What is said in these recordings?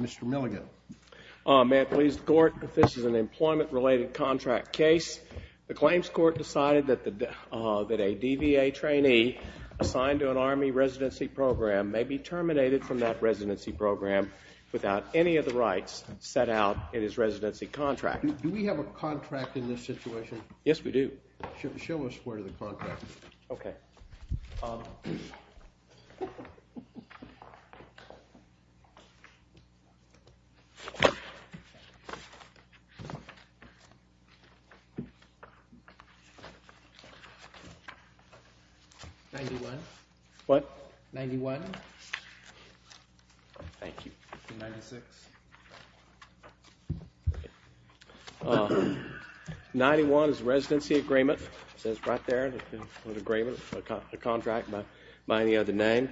Mr. Milligan, may it please the court that this is an employment-related contract case. The claims court decided that a DVA trainee assigned to an Army residency program may be terminated from that residency program without any of the rights set out in his residency contract. Do we have a contract in this situation? Yes, we do. Show us where the contract is. 91. What? 91. Thank you. 91 is a residency agreement. It says right there, an agreement, a contract by any other name.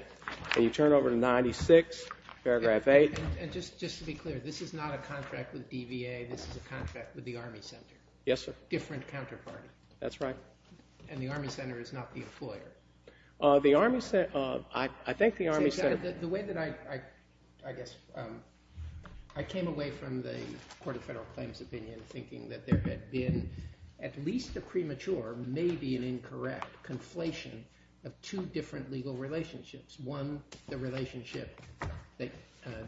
Can you turn over to 96, paragraph 8. And just to be clear, this is not a contract with DVA, this is a contract with the Army Center. Yes, sir. It's a different counterparty. That's right. And the Army Center is not the employer. The Army Center, I think the Army Center. The way that I, I guess, I came away from the Court of Federal Claims opinion thinking that there had been at least a premature, maybe an incorrect, conflation of two different legal relationships. One, the relationship that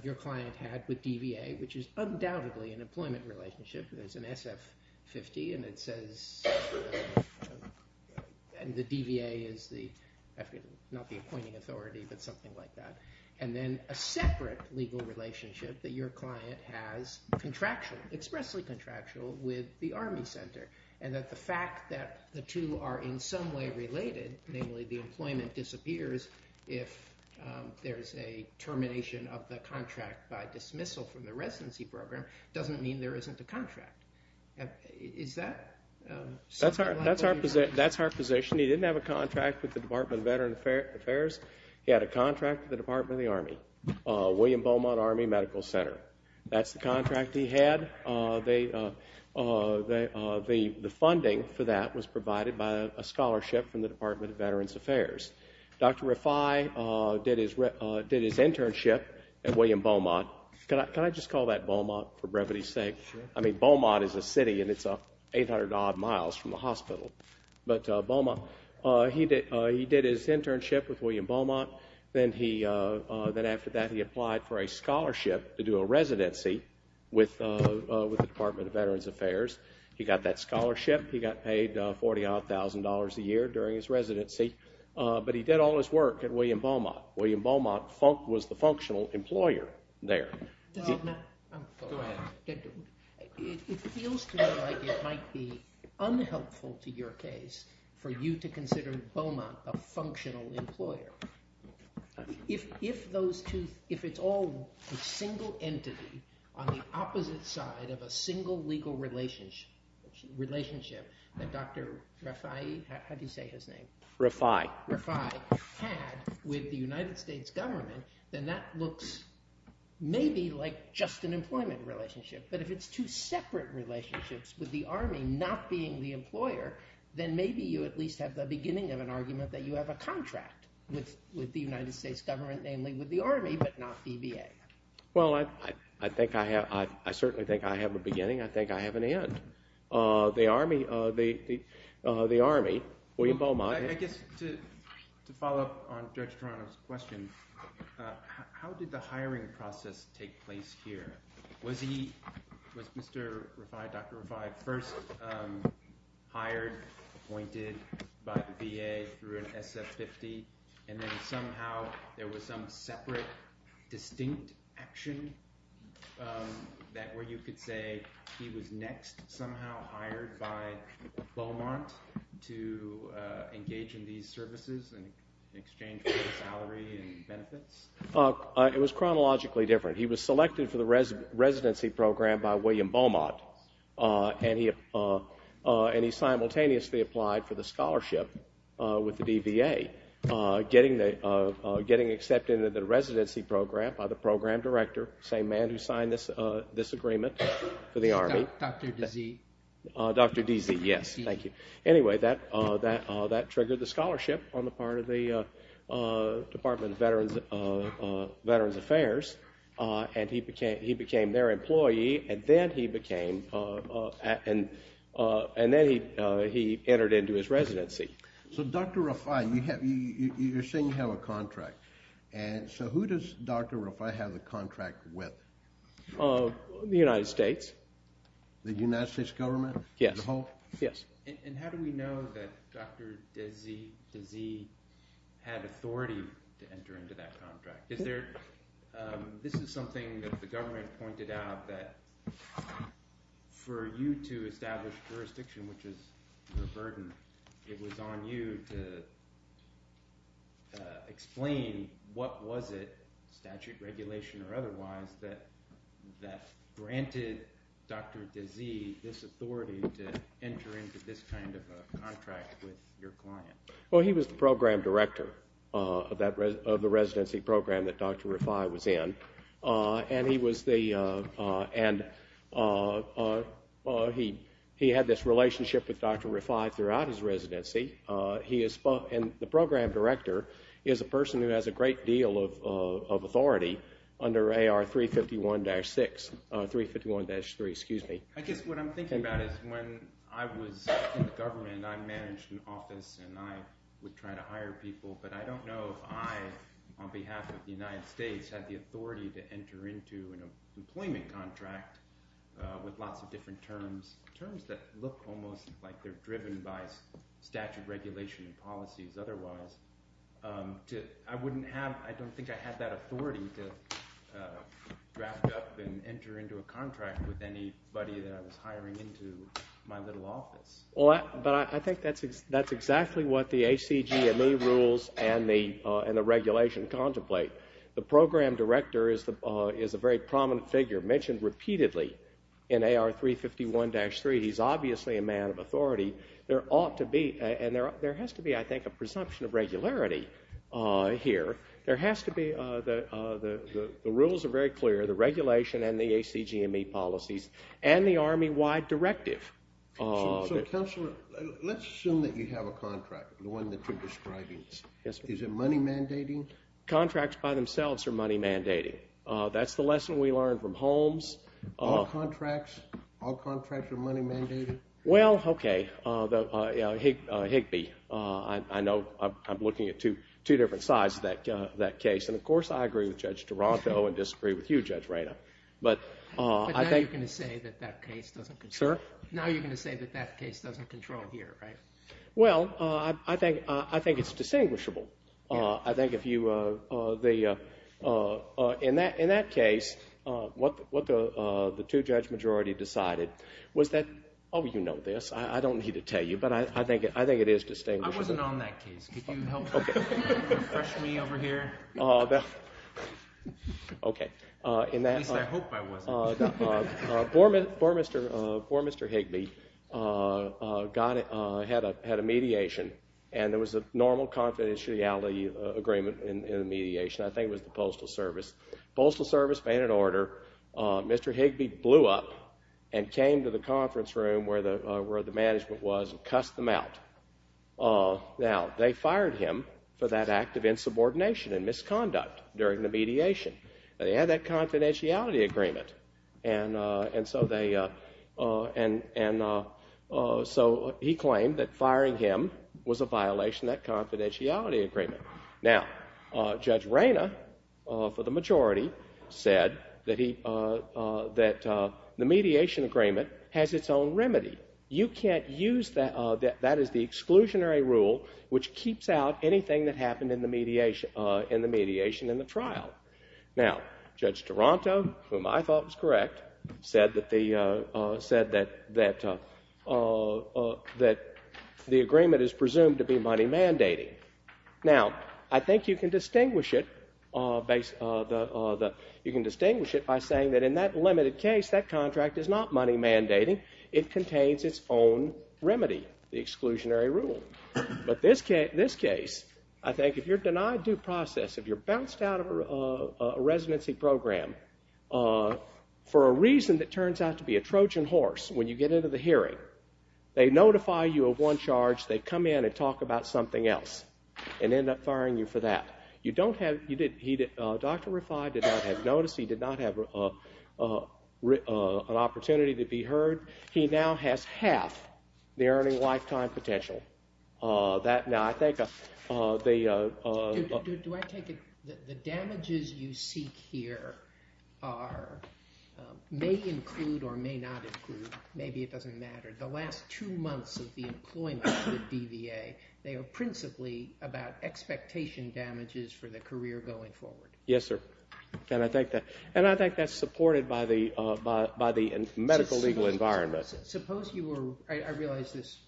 your client had with DVA, which is undoubtedly an employment relationship. There's an SF-50 and it says, and the DVA is the, not the appointing authority, but something like that. And then a separate legal relationship that your client has contractual, expressly contractual, with the Army Center. And that the fact that the two are in some way related, namely the employment disappears if there's a contract. Is that? That's our, that's our, that's our position. He didn't have a contract with the Department of Veteran Affairs. He had a contract with the Department of the Army, William Beaumont Army Medical Center. That's the contract he had. They, the funding for that was provided by a scholarship from the Beaumont is a city and it's 800 odd miles from the hospital. But Beaumont, he did, he did his internship with William Beaumont. Then he, then after that he applied for a scholarship to do a residency with, with the Department of Veterans Affairs. He got that scholarship. He got paid $40,000 a year during his residency. But he did all his It feels to me like it might be unhelpful to your case for you to consider Beaumont a functional employer. If, if those two, if it's all a single entity on the opposite side of a single legal relationship that Dr. Rafai, how do you say his name? Rafai. Rafai had with the United States government, then that looks maybe like just an employment relationship. But if it's two separate relationships with the Army, not being the employer, then maybe you at least have the beginning of an argument that you have a contract with, with the United States government, namely with the Army, but not the VA. Well, I, I, I think I have, I certainly think I have a beginning. I think I have an end. The Army, the, the, the Army, William Beaumont. I guess to, to follow up on Judge Toronto's question, how did the hiring process take place here? Was he, was Mr. Rafai, Dr. Rafai first hired, appointed by the VA through an SF-50? And then somehow there was some separate, distinct action that where you could say he was next somehow hired by Beaumont to engage in these services in exchange for the salary and benefits? It was chronologically different. He was selected for the residency program by William Beaumont and he, and he simultaneously applied for the scholarship with the DVA, getting the, getting accepted into the residency program by the program director, same man who signed this, this agreement for the Army. Dr. Dizzee. Dr. Dizzee, yes. Thank you. Anyway, that, that, that triggered the scholarship on the part of the Department of Veterans, Veterans Affairs and he became, he became their employee and then he became, and, and then he, he entered into his residency. So Dr. Rafai, you have, you, you're saying you have a contract. And so who does Dr. Rafai have a contract with? The United States. The United States government? Yes. The whole? Yes. And how do we know that Dr. Dizzee had authority to enter into that contract? Is there, this is something that the government pointed out that for you to establish jurisdiction, which is your burden, it was on you to explain what was it, statute, regulation, or otherwise, that, that granted, granted you the, the, the, the authority to enter into that contract? Well, he was the program director of that, of the residency program that Dr. Rafai was in. And he was the, and he, he had this relationship with Dr. Rafai throughout his residency. He is, and the program director is a person who has a great deal of, of authority under AR 351-6, 351-3, excuse me. I guess what I'm thinking about is when I was in the government, I managed an office and I would try to hire people, but I don't know if I, on behalf of the United States, had the authority to enter into an employment contract with lots of different terms. Terms that look almost like they're driven by statute, regulation, and policies otherwise. I wouldn't have, I don't think I had that authority to draft up and enter into a contract with anybody that I was hiring into my little office. Well, I, but I think that's, that's exactly what the ACGME rules and the, and the regulation contemplate. The program director is the, is a very prominent figure, mentioned repeatedly in AR 351-3. He's obviously a man of authority. There ought to be, and there, there has to be, I think, a presumption of regularity here. There has to be, the, the, the rules are very clear, the regulation and the ACGME policies, and the Army-wide directive. So, so, Counselor, let's assume that you have a contract, the one that you're describing. Yes, sir. Is it money mandating? Contracts by themselves are money mandating. That's the lesson we learned from Holmes. All contracts, all contracts are money mandating? Well, okay, Higbee. I know, I'm looking at two different sides of that case. And, of course, I agree with Judge Duranto and disagree with you, Judge Reyna. But, I think... But now you're going to say that that case doesn't control... Sir? Now you're going to say that that case doesn't control here, right? Well, I think it's distinguishable. I think if you... In that case, what the two-judge majority decided was that... Oh, you know this. I don't need to tell you, but I think it is distinguishable. I wasn't on that case. Could you help refresh me over here? Okay. In that... At least I hope I wasn't. Before Mr. Higbee had a mediation, and there was a normal confidentiality agreement in the mediation. I think it was the Postal Service. Postal Service made an order. Mr. Higbee blew up and came to the conference room where the management was and cussed them out. Now, they fired him for that act of insubordination and misconduct during the mediation. Now, they had that confidentiality agreement. And so they... And so he claimed that firing him was a violation of that confidentiality agreement. Now, Judge Rayna, for the majority, said that the mediation agreement has its own remedy. You can't use that... That is the exclusionary rule which keeps out anything that happened in the mediation in the trial. Now, Judge Toronto, whom I thought was correct, said that the agreement is presumed to be money mandating. Now, I think you can distinguish it by saying that in that limited case, that contract is not money mandating. It contains its own remedy, the exclusionary rule. But in this case, I think if you're denied due process, if you're bounced out of a residency program for a reason that turns out to be a Trojan horse, when you get into the hearing, they notify you of one charge. They come in and talk about something else and end up firing you for that. Now, you don't have... Dr. Refai did not have notice. He did not have an opportunity to be heard. He now has half the earning lifetime potential. Now, I think the... Do I take it that the damages you seek here are... may include or may not include. Maybe it doesn't matter. The last two months of the employment with DVA, they are principally about expectation damages for the career going forward. Yes, sir. And I think that's supported by the medical legal environment. Suppose you were... I realize this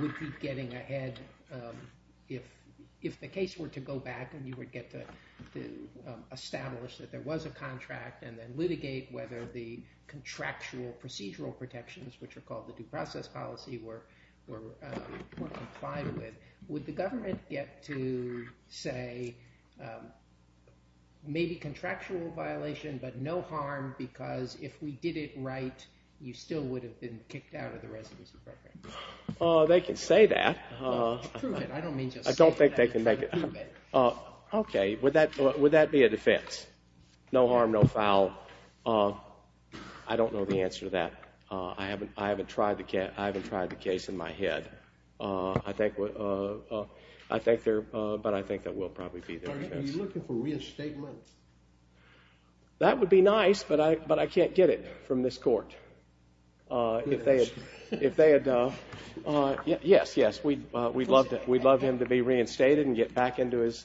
would be getting ahead. If the case were to go back and you would get to establish that there was a contract and then litigate whether the contractual procedural protections, which are called the due process policy, were complied with, would the government get to say maybe contractual violation but no harm because if we did it right, you still would have been kicked out of the residency program? They can say that. Prove it. I don't mean to say that. I don't think they can make it... Prove it. Okay. Would that be a defense? No harm, no foul. I don't know the answer to that. I haven't tried the case in my head. I think there... but I think that will probably be the defense. Are you looking for reinstatement? That would be nice, but I can't get it from this court. If they had... yes, yes, we'd love him to be reinstated and get back into his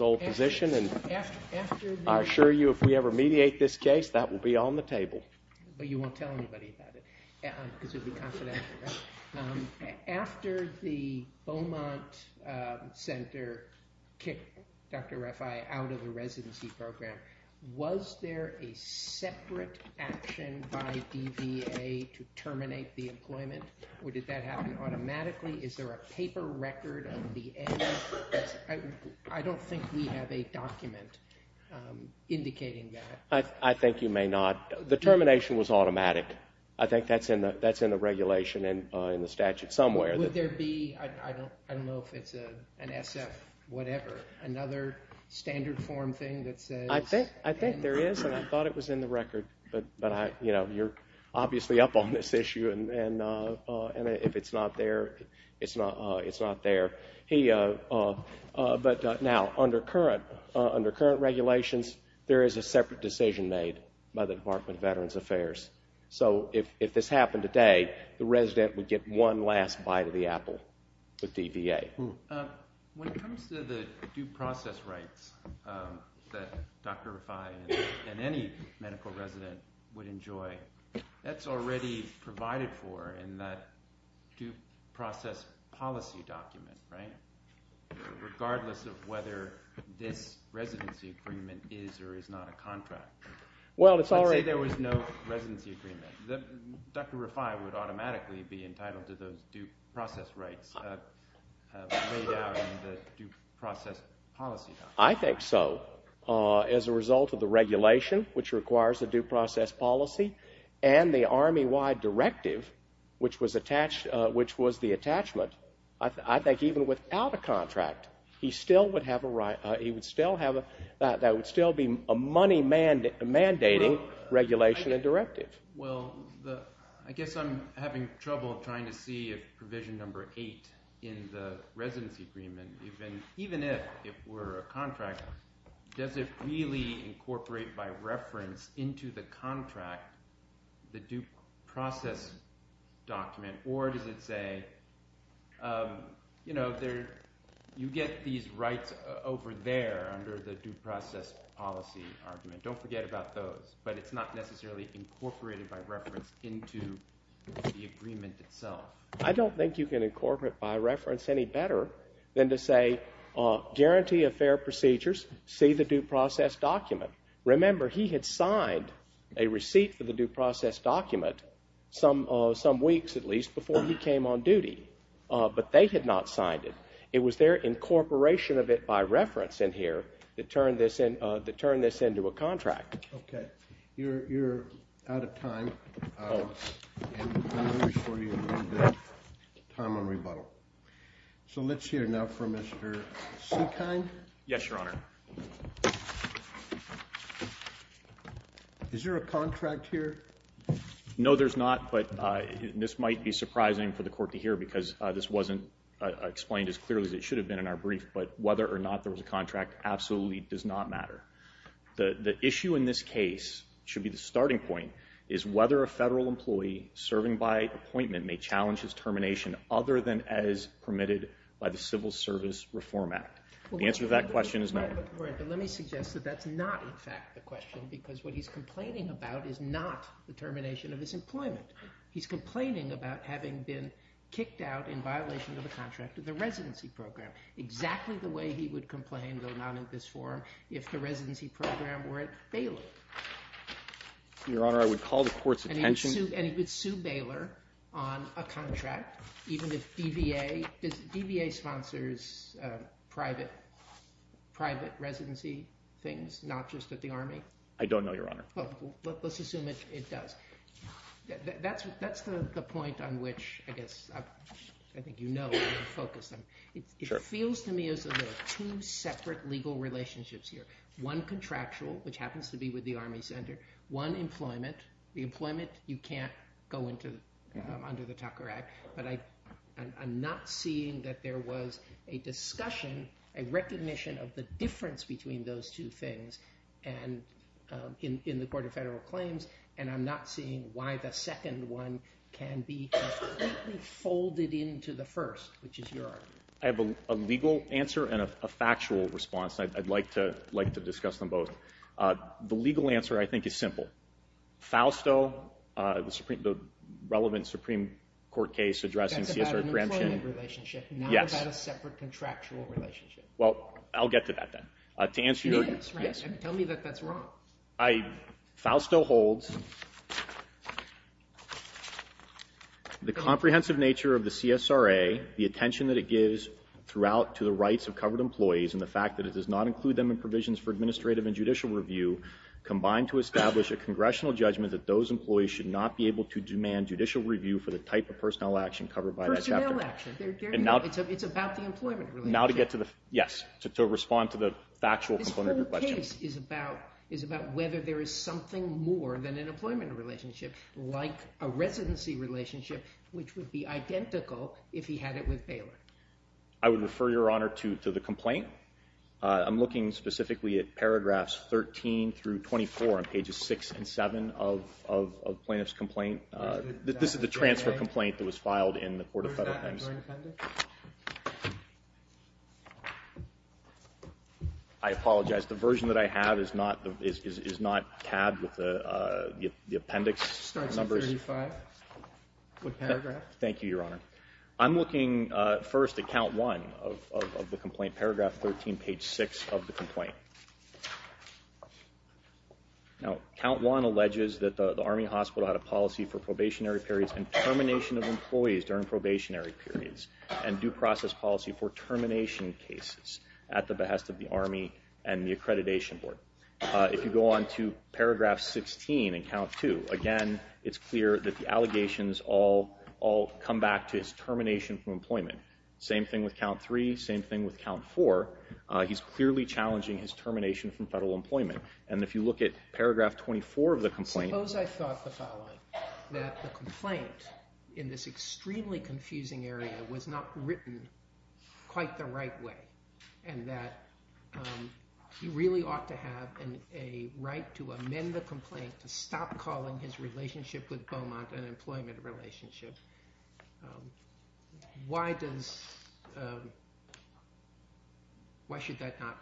old position. And I assure you if we ever mediate this case, that will be on the table. But you won't tell anybody about it because it would be confidential, right? After the Beaumont Center kicked Dr. Rafai out of the residency program, was there a separate action by DVA to terminate the employment or did that happen automatically? Is there a paper record of the end? I don't think we have a document indicating that. The termination was automatic. I think that's in the regulation and in the statute somewhere. Would there be... I don't know if it's an SF whatever, another standard form thing that says... I think there is, and I thought it was in the record. But you're obviously up on this issue, and if it's not there, it's not there. But now, under current regulations, there is a separate decision made by the Department of Veterans Affairs. So if this happened today, the resident would get one last bite of the apple with DVA. When it comes to the due process rights that Dr. Rafai and any medical resident would enjoy, that's already provided for in that due process policy document, right? Regardless of whether this residency agreement is or is not a contract. Well, it's already... Let's say there was no residency agreement. Dr. Rafai would automatically be entitled to those due process rights laid out in the due process policy. I think so. As a result of the regulation, which requires a due process policy, and the Army-wide directive, which was the attachment, I think even without a contract, he still would have a right... That would still be a money-mandating regulation and directive. Well, I guess I'm having trouble trying to see if provision number eight in the residency agreement, even if it were a contract, does it really incorporate by reference into the contract the due process document, or does it say you get these rights over there under the due process policy argument? Don't forget about those, but it's not necessarily incorporated by reference into the agreement itself. I don't think you can incorporate by reference any better than to say, guarantee of fair procedures, see the due process document. Remember, he had signed a receipt for the due process document some weeks, at least, before he came on duty, but they had not signed it. It was their incorporation of it by reference in here that turned this into a contract. Okay. You're out of time, and I'm going to reassure you we have time on rebuttal. So let's hear now from Mr. Sinkheim. Yes, Your Honor. Is there a contract here? No, there's not, but this might be surprising for the court to hear, because this wasn't explained as clearly as it should have been in our brief, but whether or not there was a contract absolutely does not matter. The issue in this case, should be the starting point, is whether a federal employee serving by appointment may challenge his termination other than as permitted by the Civil Service Reform Act. The answer to that question is no. But let me suggest that that's not, in fact, the question, because what he's complaining about is not the termination of his employment. He's complaining about having been kicked out in violation of the contract of the residency program, exactly the way he would complain, though not in this form, if the residency program were at Baylor. Your Honor, I would call the court's attention. And he would sue Baylor on a contract, even if DVA – does DVA sponsors private residency things, not just at the Army? I don't know, Your Honor. Well, let's assume it does. That's the point on which, I guess, I think you know, I'm going to focus on. It feels to me as though there are two separate legal relationships here. One contractual, which happens to be with the Army Center. One employment. The employment you can't go under the Tucker Act. But I'm not seeing that there was a discussion, a recognition of the difference between those two things in the Court of Federal Claims, and I'm not seeing why the second one can be completely folded into the first, which is your argument. I have a legal answer and a factual response. I'd like to discuss them both. The legal answer, I think, is simple. Fausto, the relevant Supreme Court case addressing CSRA Gramshin. That's about an employment relationship, not about a separate contractual relationship. Well, I'll get to that then. Yes, right. Tell me that that's wrong. Fausto holds the comprehensive nature of the CSRA, the attention that it gives throughout to the rights of covered employees, and the fact that it does not include them in provisions for administrative and judicial review, combined to establish a congressional judgment that those employees should not be able to demand judicial review for the type of personnel action covered by that chapter. Personnel action. It's about the employment relationship. Now to get to the, yes, to respond to the factual component of your question. The case is about whether there is something more than an employment relationship, like a residency relationship, which would be identical if he had it with Baylor. I would refer, Your Honor, to the complaint. I'm looking specifically at paragraphs 13 through 24 on pages 6 and 7 of Plaintiff's complaint. This is the transfer complaint that was filed in the court of federal things. Is there an appendix? I apologize. The version that I have is not tabbed with the appendix numbers. It starts at 35 with paragraph. Thank you, Your Honor. I'm looking first at count 1 of the complaint, paragraph 13, page 6 of the complaint. Now count 1 alleges that the Army Hospital had a policy for probationary periods and termination of employees during probationary periods and due process policy for termination cases at the behest of the Army and the Accreditation Board. If you go on to paragraph 16 in count 2, again, it's clear that the allegations all come back to his termination from employment. Same thing with count 3, same thing with count 4. He's clearly challenging his termination from federal employment. And if you look at paragraph 24 of the complaint. Suppose I thought the following, that the complaint in this extremely confusing area was not written quite the right way and that he really ought to have a right to amend the complaint to stop calling his relationship with Beaumont an employment relationship. Why should that not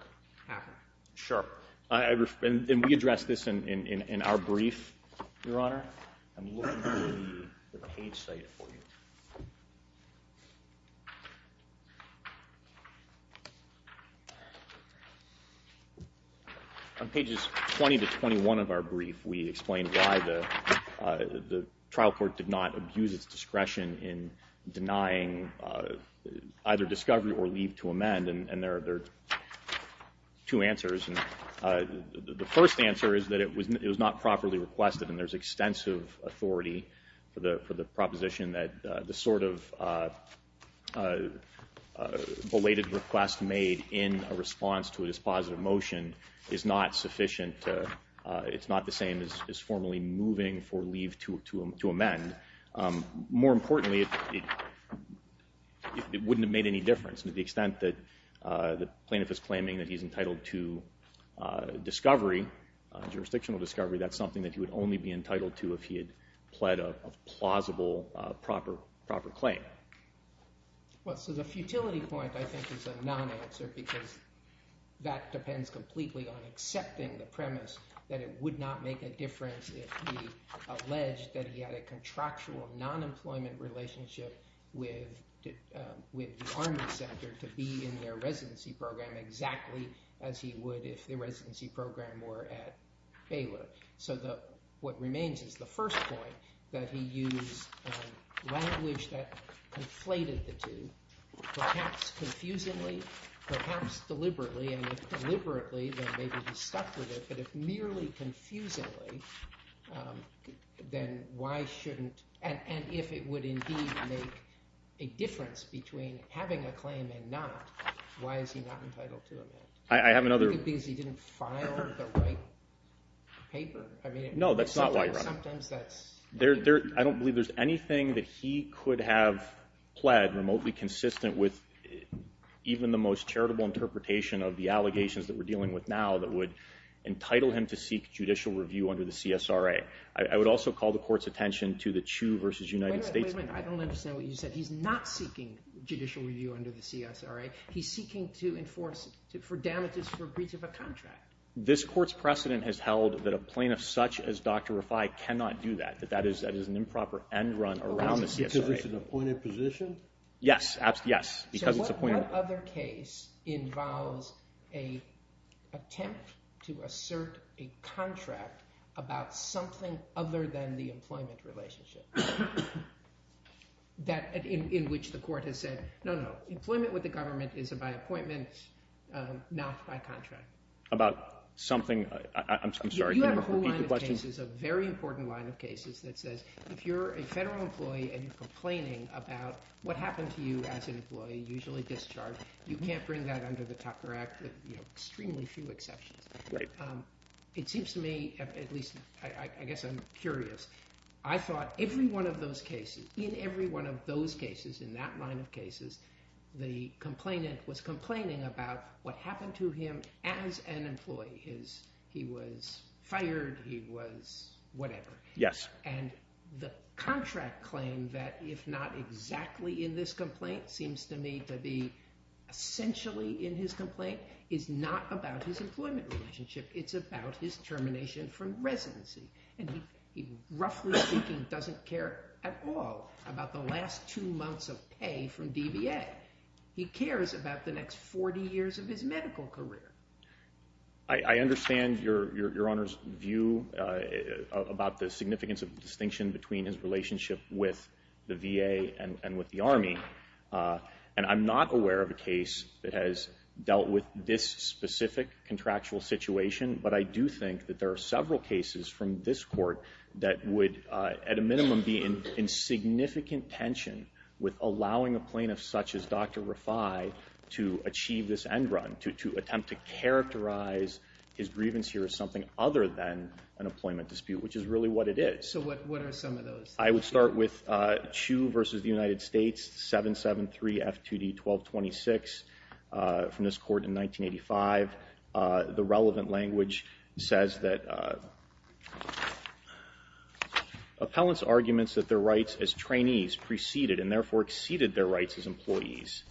happen? Sure. And we addressed this in our brief, Your Honor. I'm looking for the page cited for you. On pages 20 to 21 of our brief, we explained why the trial court did not abuse its discretion in denying either discovery or leave to amend. And there are two answers. The first answer is that it was not properly requested and there's extensive authority for the proposition that the sort of belated request made in response to a dispositive motion is not sufficient. It's not the same as formally moving for leave to amend. More importantly, it wouldn't have made any difference to the extent that the plaintiff is claiming that he's entitled to discovery, jurisdictional discovery, that's something that he would only be entitled to if he had pled a plausible proper claim. Well, so the futility point I think is a non-answer because that depends completely on accepting the premise that it would not make a difference if he alleged that he had a contractual non-employment relationship with the Army Center to be in their residency program exactly as he would if the residency program were at Baylor. So what remains is the first point, that he used language that conflated the two, perhaps confusingly, perhaps deliberately, and if deliberately then maybe he stuck with it, but if merely confusingly, then why shouldn't, and if it would indeed make a difference between having a claim and not, why is he not entitled to amend? I have another... Because he didn't file the right paper. No, that's not why he filed it. I don't believe there's anything that he could have pled remotely consistent with even the most charitable interpretation of the allegations that we're dealing with now that would entitle him to seek judicial review under the CSRA. I would also call the court's attention to the Chu v. United States. Wait a minute, I don't understand what you said. He's not seeking judicial review under the CSRA. He's seeking to enforce it for damages for breach of a contract. This court's precedent has held that a plaintiff such as Dr. Refai cannot do that, that that is an improper end run around the CSRA. Because it's an appointed position? Yes, absolutely, yes, because it's appointed. But what other case involves an attempt to assert a contract about something other than the employment relationship in which the court has said, no, no, employment with the government is by appointment, not by contract? About something? I'm sorry, can you repeat the question? You have a whole line of cases, a very important line of cases that says if you're a federal employee and you're complaining about what happened to you as an employee, usually discharged, you can't bring that under the Tucker Act with extremely few exceptions. It seems to me, at least I guess I'm curious, I thought every one of those cases, in every one of those cases, in that line of cases, the complainant was complaining about what happened to him as an employee. He was fired, he was whatever. Yes. And the contract claim that if not exactly in this complaint seems to me to be essentially in his complaint is not about his employment relationship. It's about his termination from residency. And he, roughly speaking, doesn't care at all about the last two months of pay from DBA. He cares about the next 40 years of his medical career. I understand Your Honor's view about the significance of the distinction between his relationship with the VA and with the Army. And I'm not aware of a case that has dealt with this specific contractual situation, but I do think that there are several cases from this court that would, at a minimum, be in significant tension with allowing a plaintiff such as Dr. Rafai to achieve this end run, to attempt to characterize his grievance here as something other than an employment dispute, which is really what it is. So what are some of those? I would start with Chiu v. The United States, 773 F2D 1226, from this court in 1985. The relevant language says that Appellant's arguments that their rights as trainees preceded and therefore exceeded their rights as employees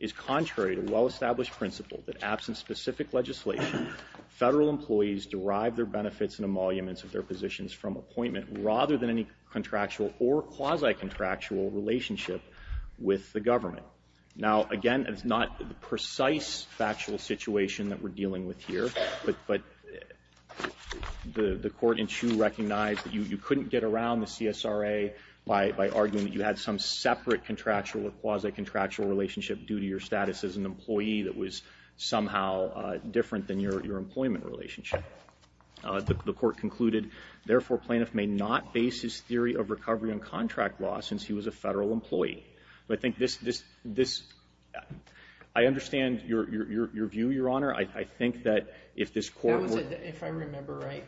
is contrary to well-established principle that, absent specific legislation, Federal employees derive their benefits and emoluments of their positions from appointment rather than any contractual or quasi-contractual relationship with the government. Now, again, it's not the precise factual situation that we're dealing with here, but the Court in Chiu recognized that you couldn't get around the CSRA by arguing that you had some separate contractual or quasi-contractual relationship due to your status as an employee that was somehow different than your employment relationship. The Court concluded, Therefore, plaintiff may not base his theory of recovery on contract law since he was a Federal employee. I understand your view, Your Honor. If I remember right,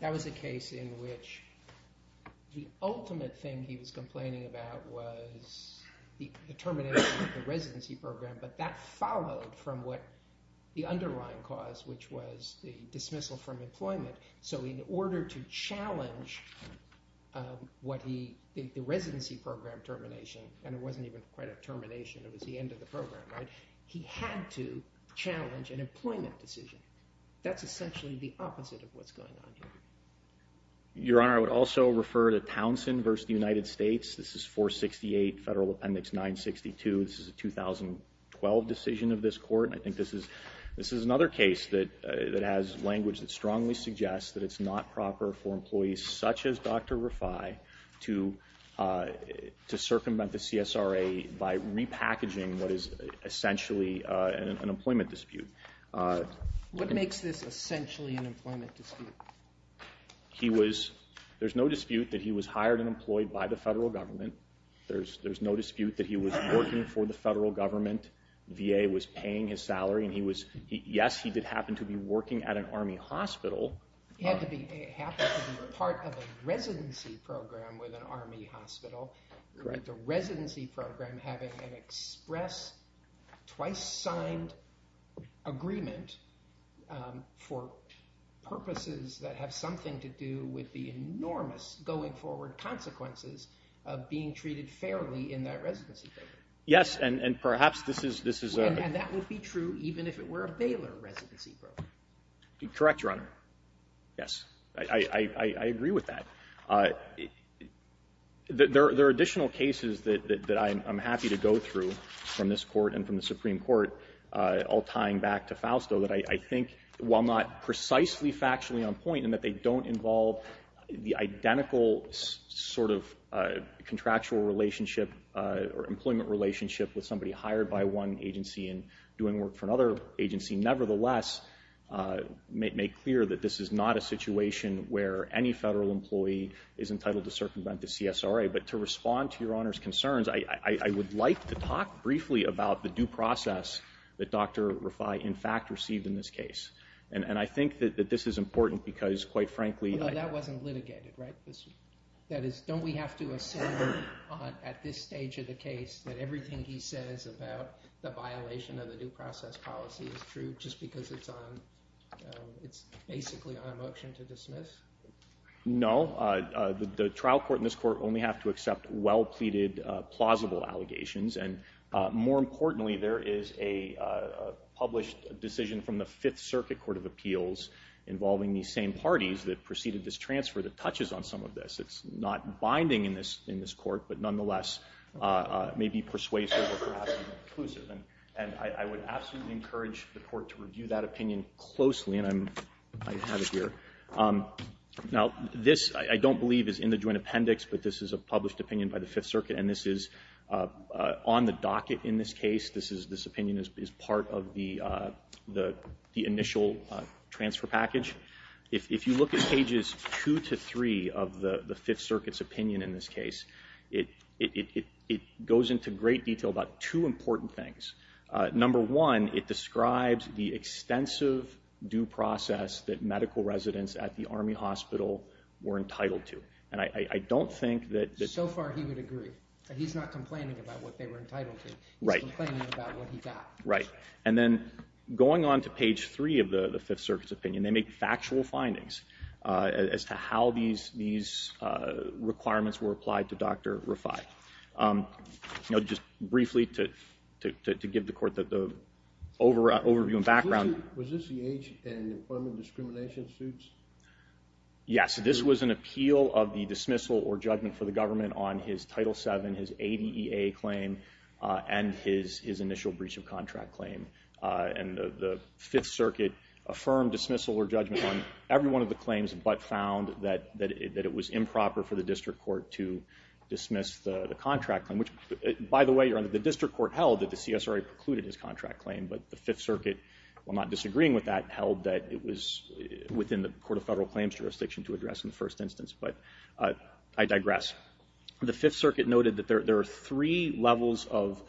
that was a case in which the ultimate thing he was complaining about was the termination of the residency program, but that followed from what the underlying cause, which was the dismissal from employment. So in order to challenge the residency program termination, and it wasn't even quite a termination, it was the end of the program, right? So in order to challenge an employment decision, that's essentially the opposite of what's going on here. Your Honor, I would also refer to Townsend v. United States. This is 468 Federal Appendix 962. This is a 2012 decision of this Court, and I think this is another case that has language that strongly suggests that it's not proper for employees such as Dr. Rafai to circumvent the CSRA by repackaging what is essentially an employment dispute. What makes this essentially an employment dispute? There's no dispute that he was hired and employed by the Federal Government. There's no dispute that he was working for the Federal Government. The VA was paying his salary, and yes, he did happen to be working at an Army hospital. He happened to be part of a residency program with an Army hospital. Correct. The residency program having an express twice-signed agreement for purposes that have something to do with the enormous going-forward consequences of being treated fairly in that residency program. Yes, and perhaps this is a— And that would be true even if it were a Baylor residency program. Correct, Your Honor. Yes, I agree with that. There are additional cases that I'm happy to go through from this Court and from the Supreme Court, all tying back to Fausto, that I think while not precisely factually on point and that they don't involve the identical sort of contractual relationship or employment relationship with somebody hired by one agency and doing work for another agency, nevertheless make clear that this is not a situation where any federal employee is entitled to circumvent the CSRA. But to respond to Your Honor's concerns, I would like to talk briefly about the due process that Dr. Refai, in fact, received in this case. And I think that this is important because, quite frankly— No, that wasn't litigated, right? That is, don't we have to assume at this stage of the case that everything he says about the violation of the due process policy is true just because it's basically on a motion to dismiss? No. The trial court and this Court only have to accept well-pleaded, plausible allegations. And more importantly, there is a published decision from the Fifth Circuit Court of Appeals involving these same parties that preceded this transfer that touches on some of this. It's not binding in this Court, but nonetheless may be persuasive or perhaps inclusive. And I would absolutely encourage the Court to review that opinion closely, and I have it here. Now, this, I don't believe, is in the joint appendix, but this is a published opinion by the Fifth Circuit, and this is on the docket in this case. This opinion is part of the initial transfer package. If you look at pages 2 to 3 of the Fifth Circuit's opinion in this case, it goes into great detail about two important things. Number one, it describes the extensive due process that medical residents at the Army Hospital were entitled to. And I don't think that... So far he would agree. He's not complaining about what they were entitled to. He's complaining about what he got. Right. And then going on to page 3 of the Fifth Circuit's opinion, they make factual findings as to how these requirements were applied to Dr. Rafai. Just briefly to give the Court the overview and background... Was this the age and employment discrimination suits? Yes. This was an appeal of the dismissal or judgment for the government on his Title VII, his ADEA claim, and his initial breach of contract claim. And the Fifth Circuit affirmed dismissal or judgment on every one of the claims but found that it was improper for the district court to dismiss the contract claim. By the way, the district court held that the CSRA precluded his contract claim, but the Fifth Circuit, while not disagreeing with that, held that it was within the Court of Federal Claims jurisdiction to address in the first instance. But I digress. The Fifth Circuit noted that there are three levels of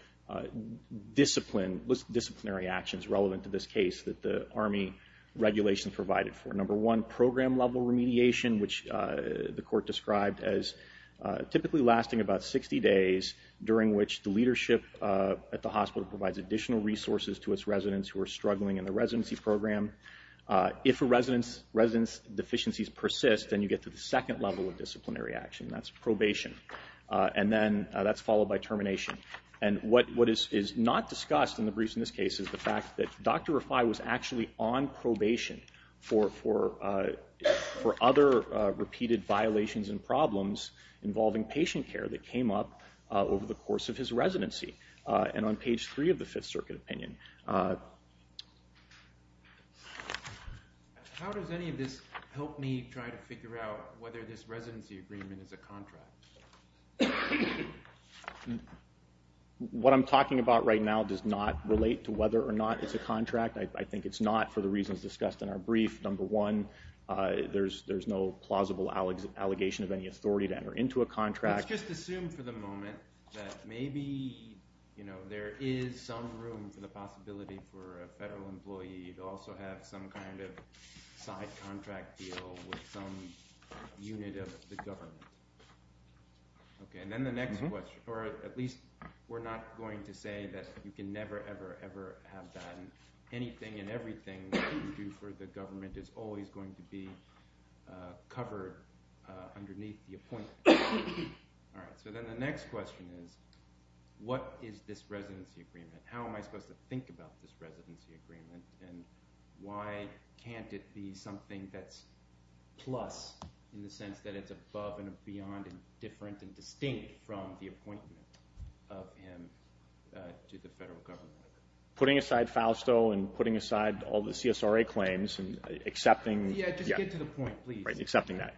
disciplinary actions relevant to this case that the Army regulations provided for. Number one, program-level remediation, which the Court described as typically lasting about 60 days, during which the leadership at the hospital provides additional resources to its residents who are struggling in the residency program. If a resident's deficiencies persist, then you get to the second level of disciplinary action, and that's probation. And then that's followed by termination. And what is not discussed in the briefs in this case is the fact that Dr. Refai was actually on probation for other repeated violations and problems involving patient care that came up over the course of his residency, and on page 3 of the Fifth Circuit opinion. How does any of this help me try to figure out whether this residency agreement is a contract? What I'm talking about right now does not relate to whether or not it's a contract. I think it's not for the reasons discussed in our brief. Number one, there's no plausible allegation of any authority to enter into a contract. Let's just assume for the moment that maybe there is some room for the possibility for a federal employee to also have some kind of side contract deal with some unit of the government. And then the next question, or at least we're not going to say that you can never, ever, ever have that. And anything and everything that you do for the government is always going to be covered underneath the appointment. All right, so then the next question is, what is this residency agreement? How am I supposed to think about this residency agreement, and why can't it be something that's plus in the sense that it's above and beyond and different and distinct from the appointment of him to the federal government? Putting aside FAUSTO and putting aside all the CSRA claims and accepting Yeah, just get to the point, please. Right, accepting that.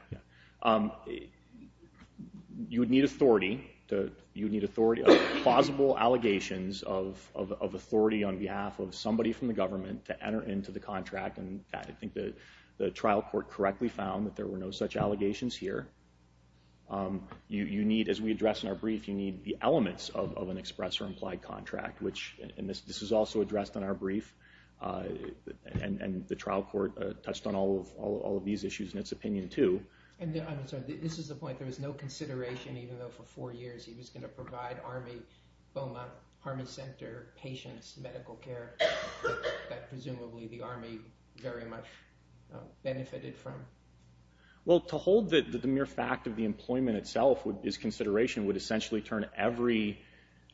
You would need authority, plausible allegations of authority on behalf of somebody from the government to enter into the contract, and I think the trial court correctly found that there were no such allegations here. You need, as we address in our brief, you need the elements of an express or implied contract, and this is also addressed in our brief, and the trial court touched on all of these issues in its opinion, too. And I'm sorry, this is the point, there was no consideration, even though for four years he was going to provide Army, FOMA, Army Center, patients, medical care, that presumably the Army very much benefited from. Well, to hold that the mere fact of the employment itself is consideration would essentially turn every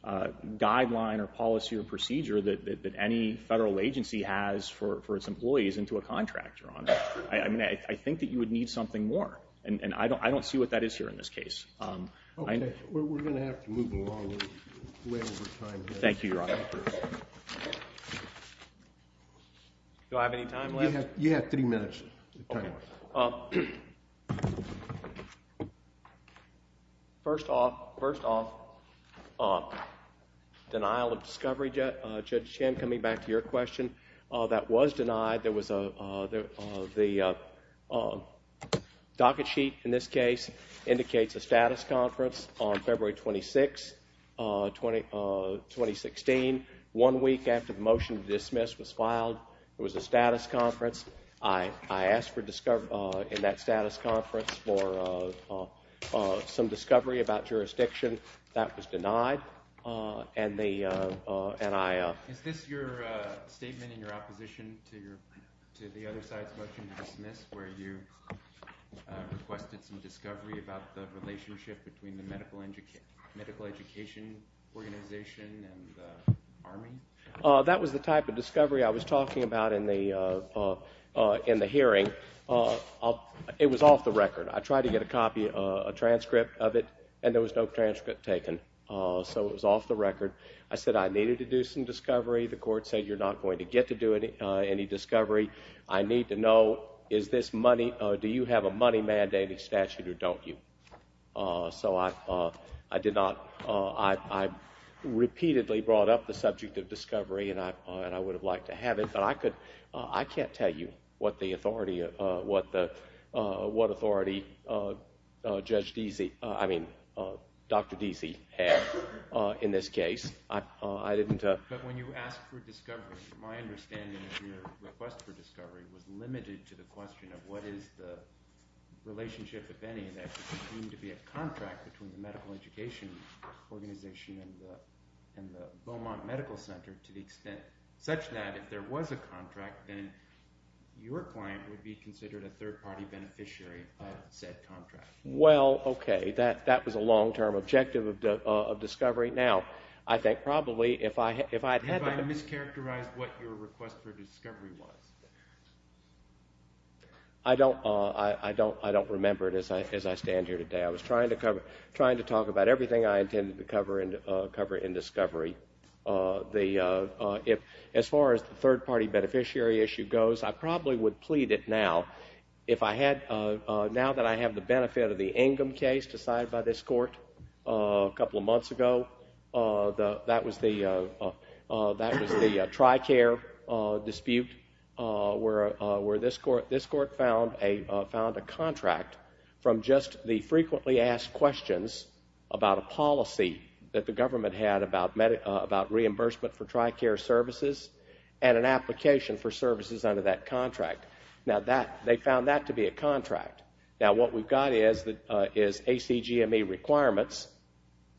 guideline or policy or procedure that any federal agency has for its employees into a contract, Your Honor. I think that you would need something more, and I don't see what that is here in this case. We're going to have to move along way over time. Thank you, Your Honor. Do I have any time left? You have three minutes. First off, denial of discovery, Judge Chin, coming back to your question, that was denied. The docket sheet in this case indicates a status conference on February 26, 2016. One week after the motion to dismiss was filed, there was a status conference. I asked in that status conference for some discovery about jurisdiction. That was denied. Is this your statement in your opposition to the other side's motion to dismiss, where you requested some discovery about the relationship between the medical education organization and the Army? That was the type of discovery I was talking about in the hearing. It was off the record. I tried to get a copy, a transcript of it, and there was no transcript taken, so it was off the record. I said I needed to do some discovery. The court said you're not going to get to do any discovery. I need to know, do you have a money-mandating statute or don't you? I repeatedly brought up the subject of discovery, and I would have liked to have it, but I can't tell you what authority Dr. Deasy had in this case. But when you asked for discovery, my understanding of your request for discovery was limited to the question of what is the relationship, if any, that is deemed to be a contract between the medical education organization and the Beaumont Medical Center to the extent such that if there was a contract, then your client would be considered a third-party beneficiary of said contract. Well, okay, that was a long-term objective of discovery. Have I mischaracterized what your request for discovery was? I don't remember it as I stand here today. I was trying to talk about everything I intended to cover in discovery. As far as the third-party beneficiary issue goes, I probably would plead it now. Now that I have the benefit of the Ingham case decided by this court a couple of months ago, that was the TRICARE dispute where this court found a contract from just the frequently asked questions about a policy that the government had about reimbursement for TRICARE services and an application for services under that contract. Now they found that to be a contract. Now what we've got is ACGME requirements,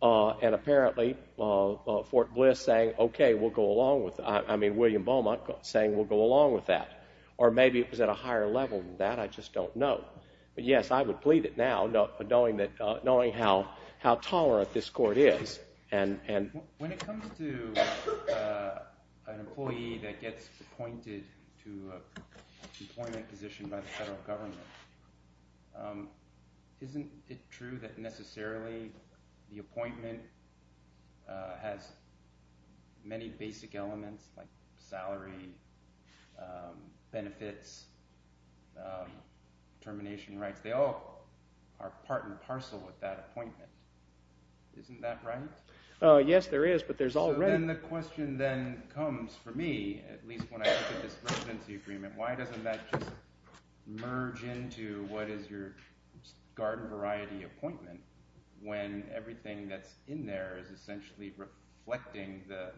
and apparently Fort Bliss saying, okay, we'll go along with that, I mean William Beaumont saying we'll go along with that. Or maybe it was at a higher level than that, I just don't know. But yes, I would plead it now, knowing how tolerant this court is. When it comes to an employee that gets appointed to an employment position by the federal government, isn't it true that necessarily the appointment has many basic elements like salary, benefits, termination rights? They all are part and parcel with that appointment. Isn't that right? Yes, there is, but there's already... Then the question then comes for me, at least when I look at this residency agreement, why doesn't that just merge into what is your garden variety appointment when everything that's in there is essentially reflecting the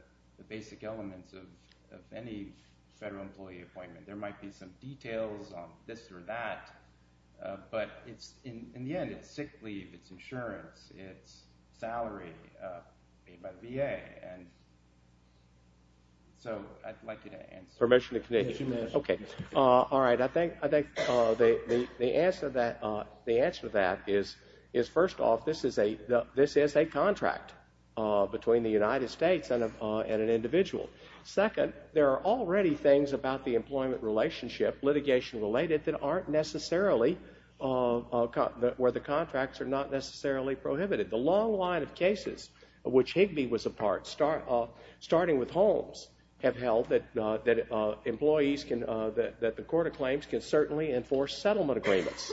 basic elements of any federal employee appointment? There might be some details on this or that, but in the end it's sick leave, it's insurance, it's salary paid by the VA, and so I'd like you to answer. Permission to continue. Okay. All right, I think the answer to that is, first off, this is a contract between the United States and an individual. Second, there are already things about the employment relationship, litigation related, that aren't necessarily, where the contracts are not necessarily prohibited. The long line of cases, of which Higbee was a part, starting with Holmes, have held that the Court of Claims can certainly enforce settlement agreements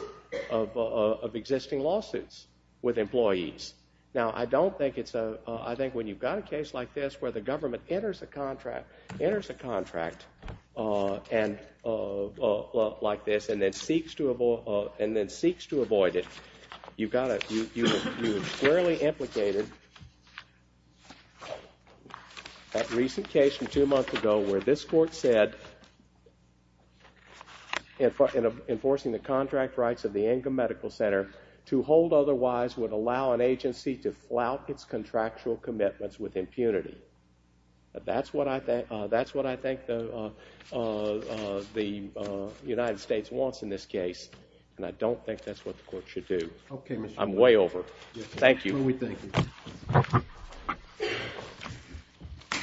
of existing lawsuits with employees. Now, I don't think it's a, I think when you've got a case like this, where the government enters a contract like this and then seeks to avoid it, you've got to, you were fairly implicated. That recent case from two months ago where this court said, in enforcing the contract rights of the Ingram Medical Center, to hold otherwise would allow an agency to flout its contractual commitments with impunity. That's what I think the United States wants in this case, and I don't think that's what the court should do. Okay, Mr. Chairman. I'm way over. Thank you. No, we thank you.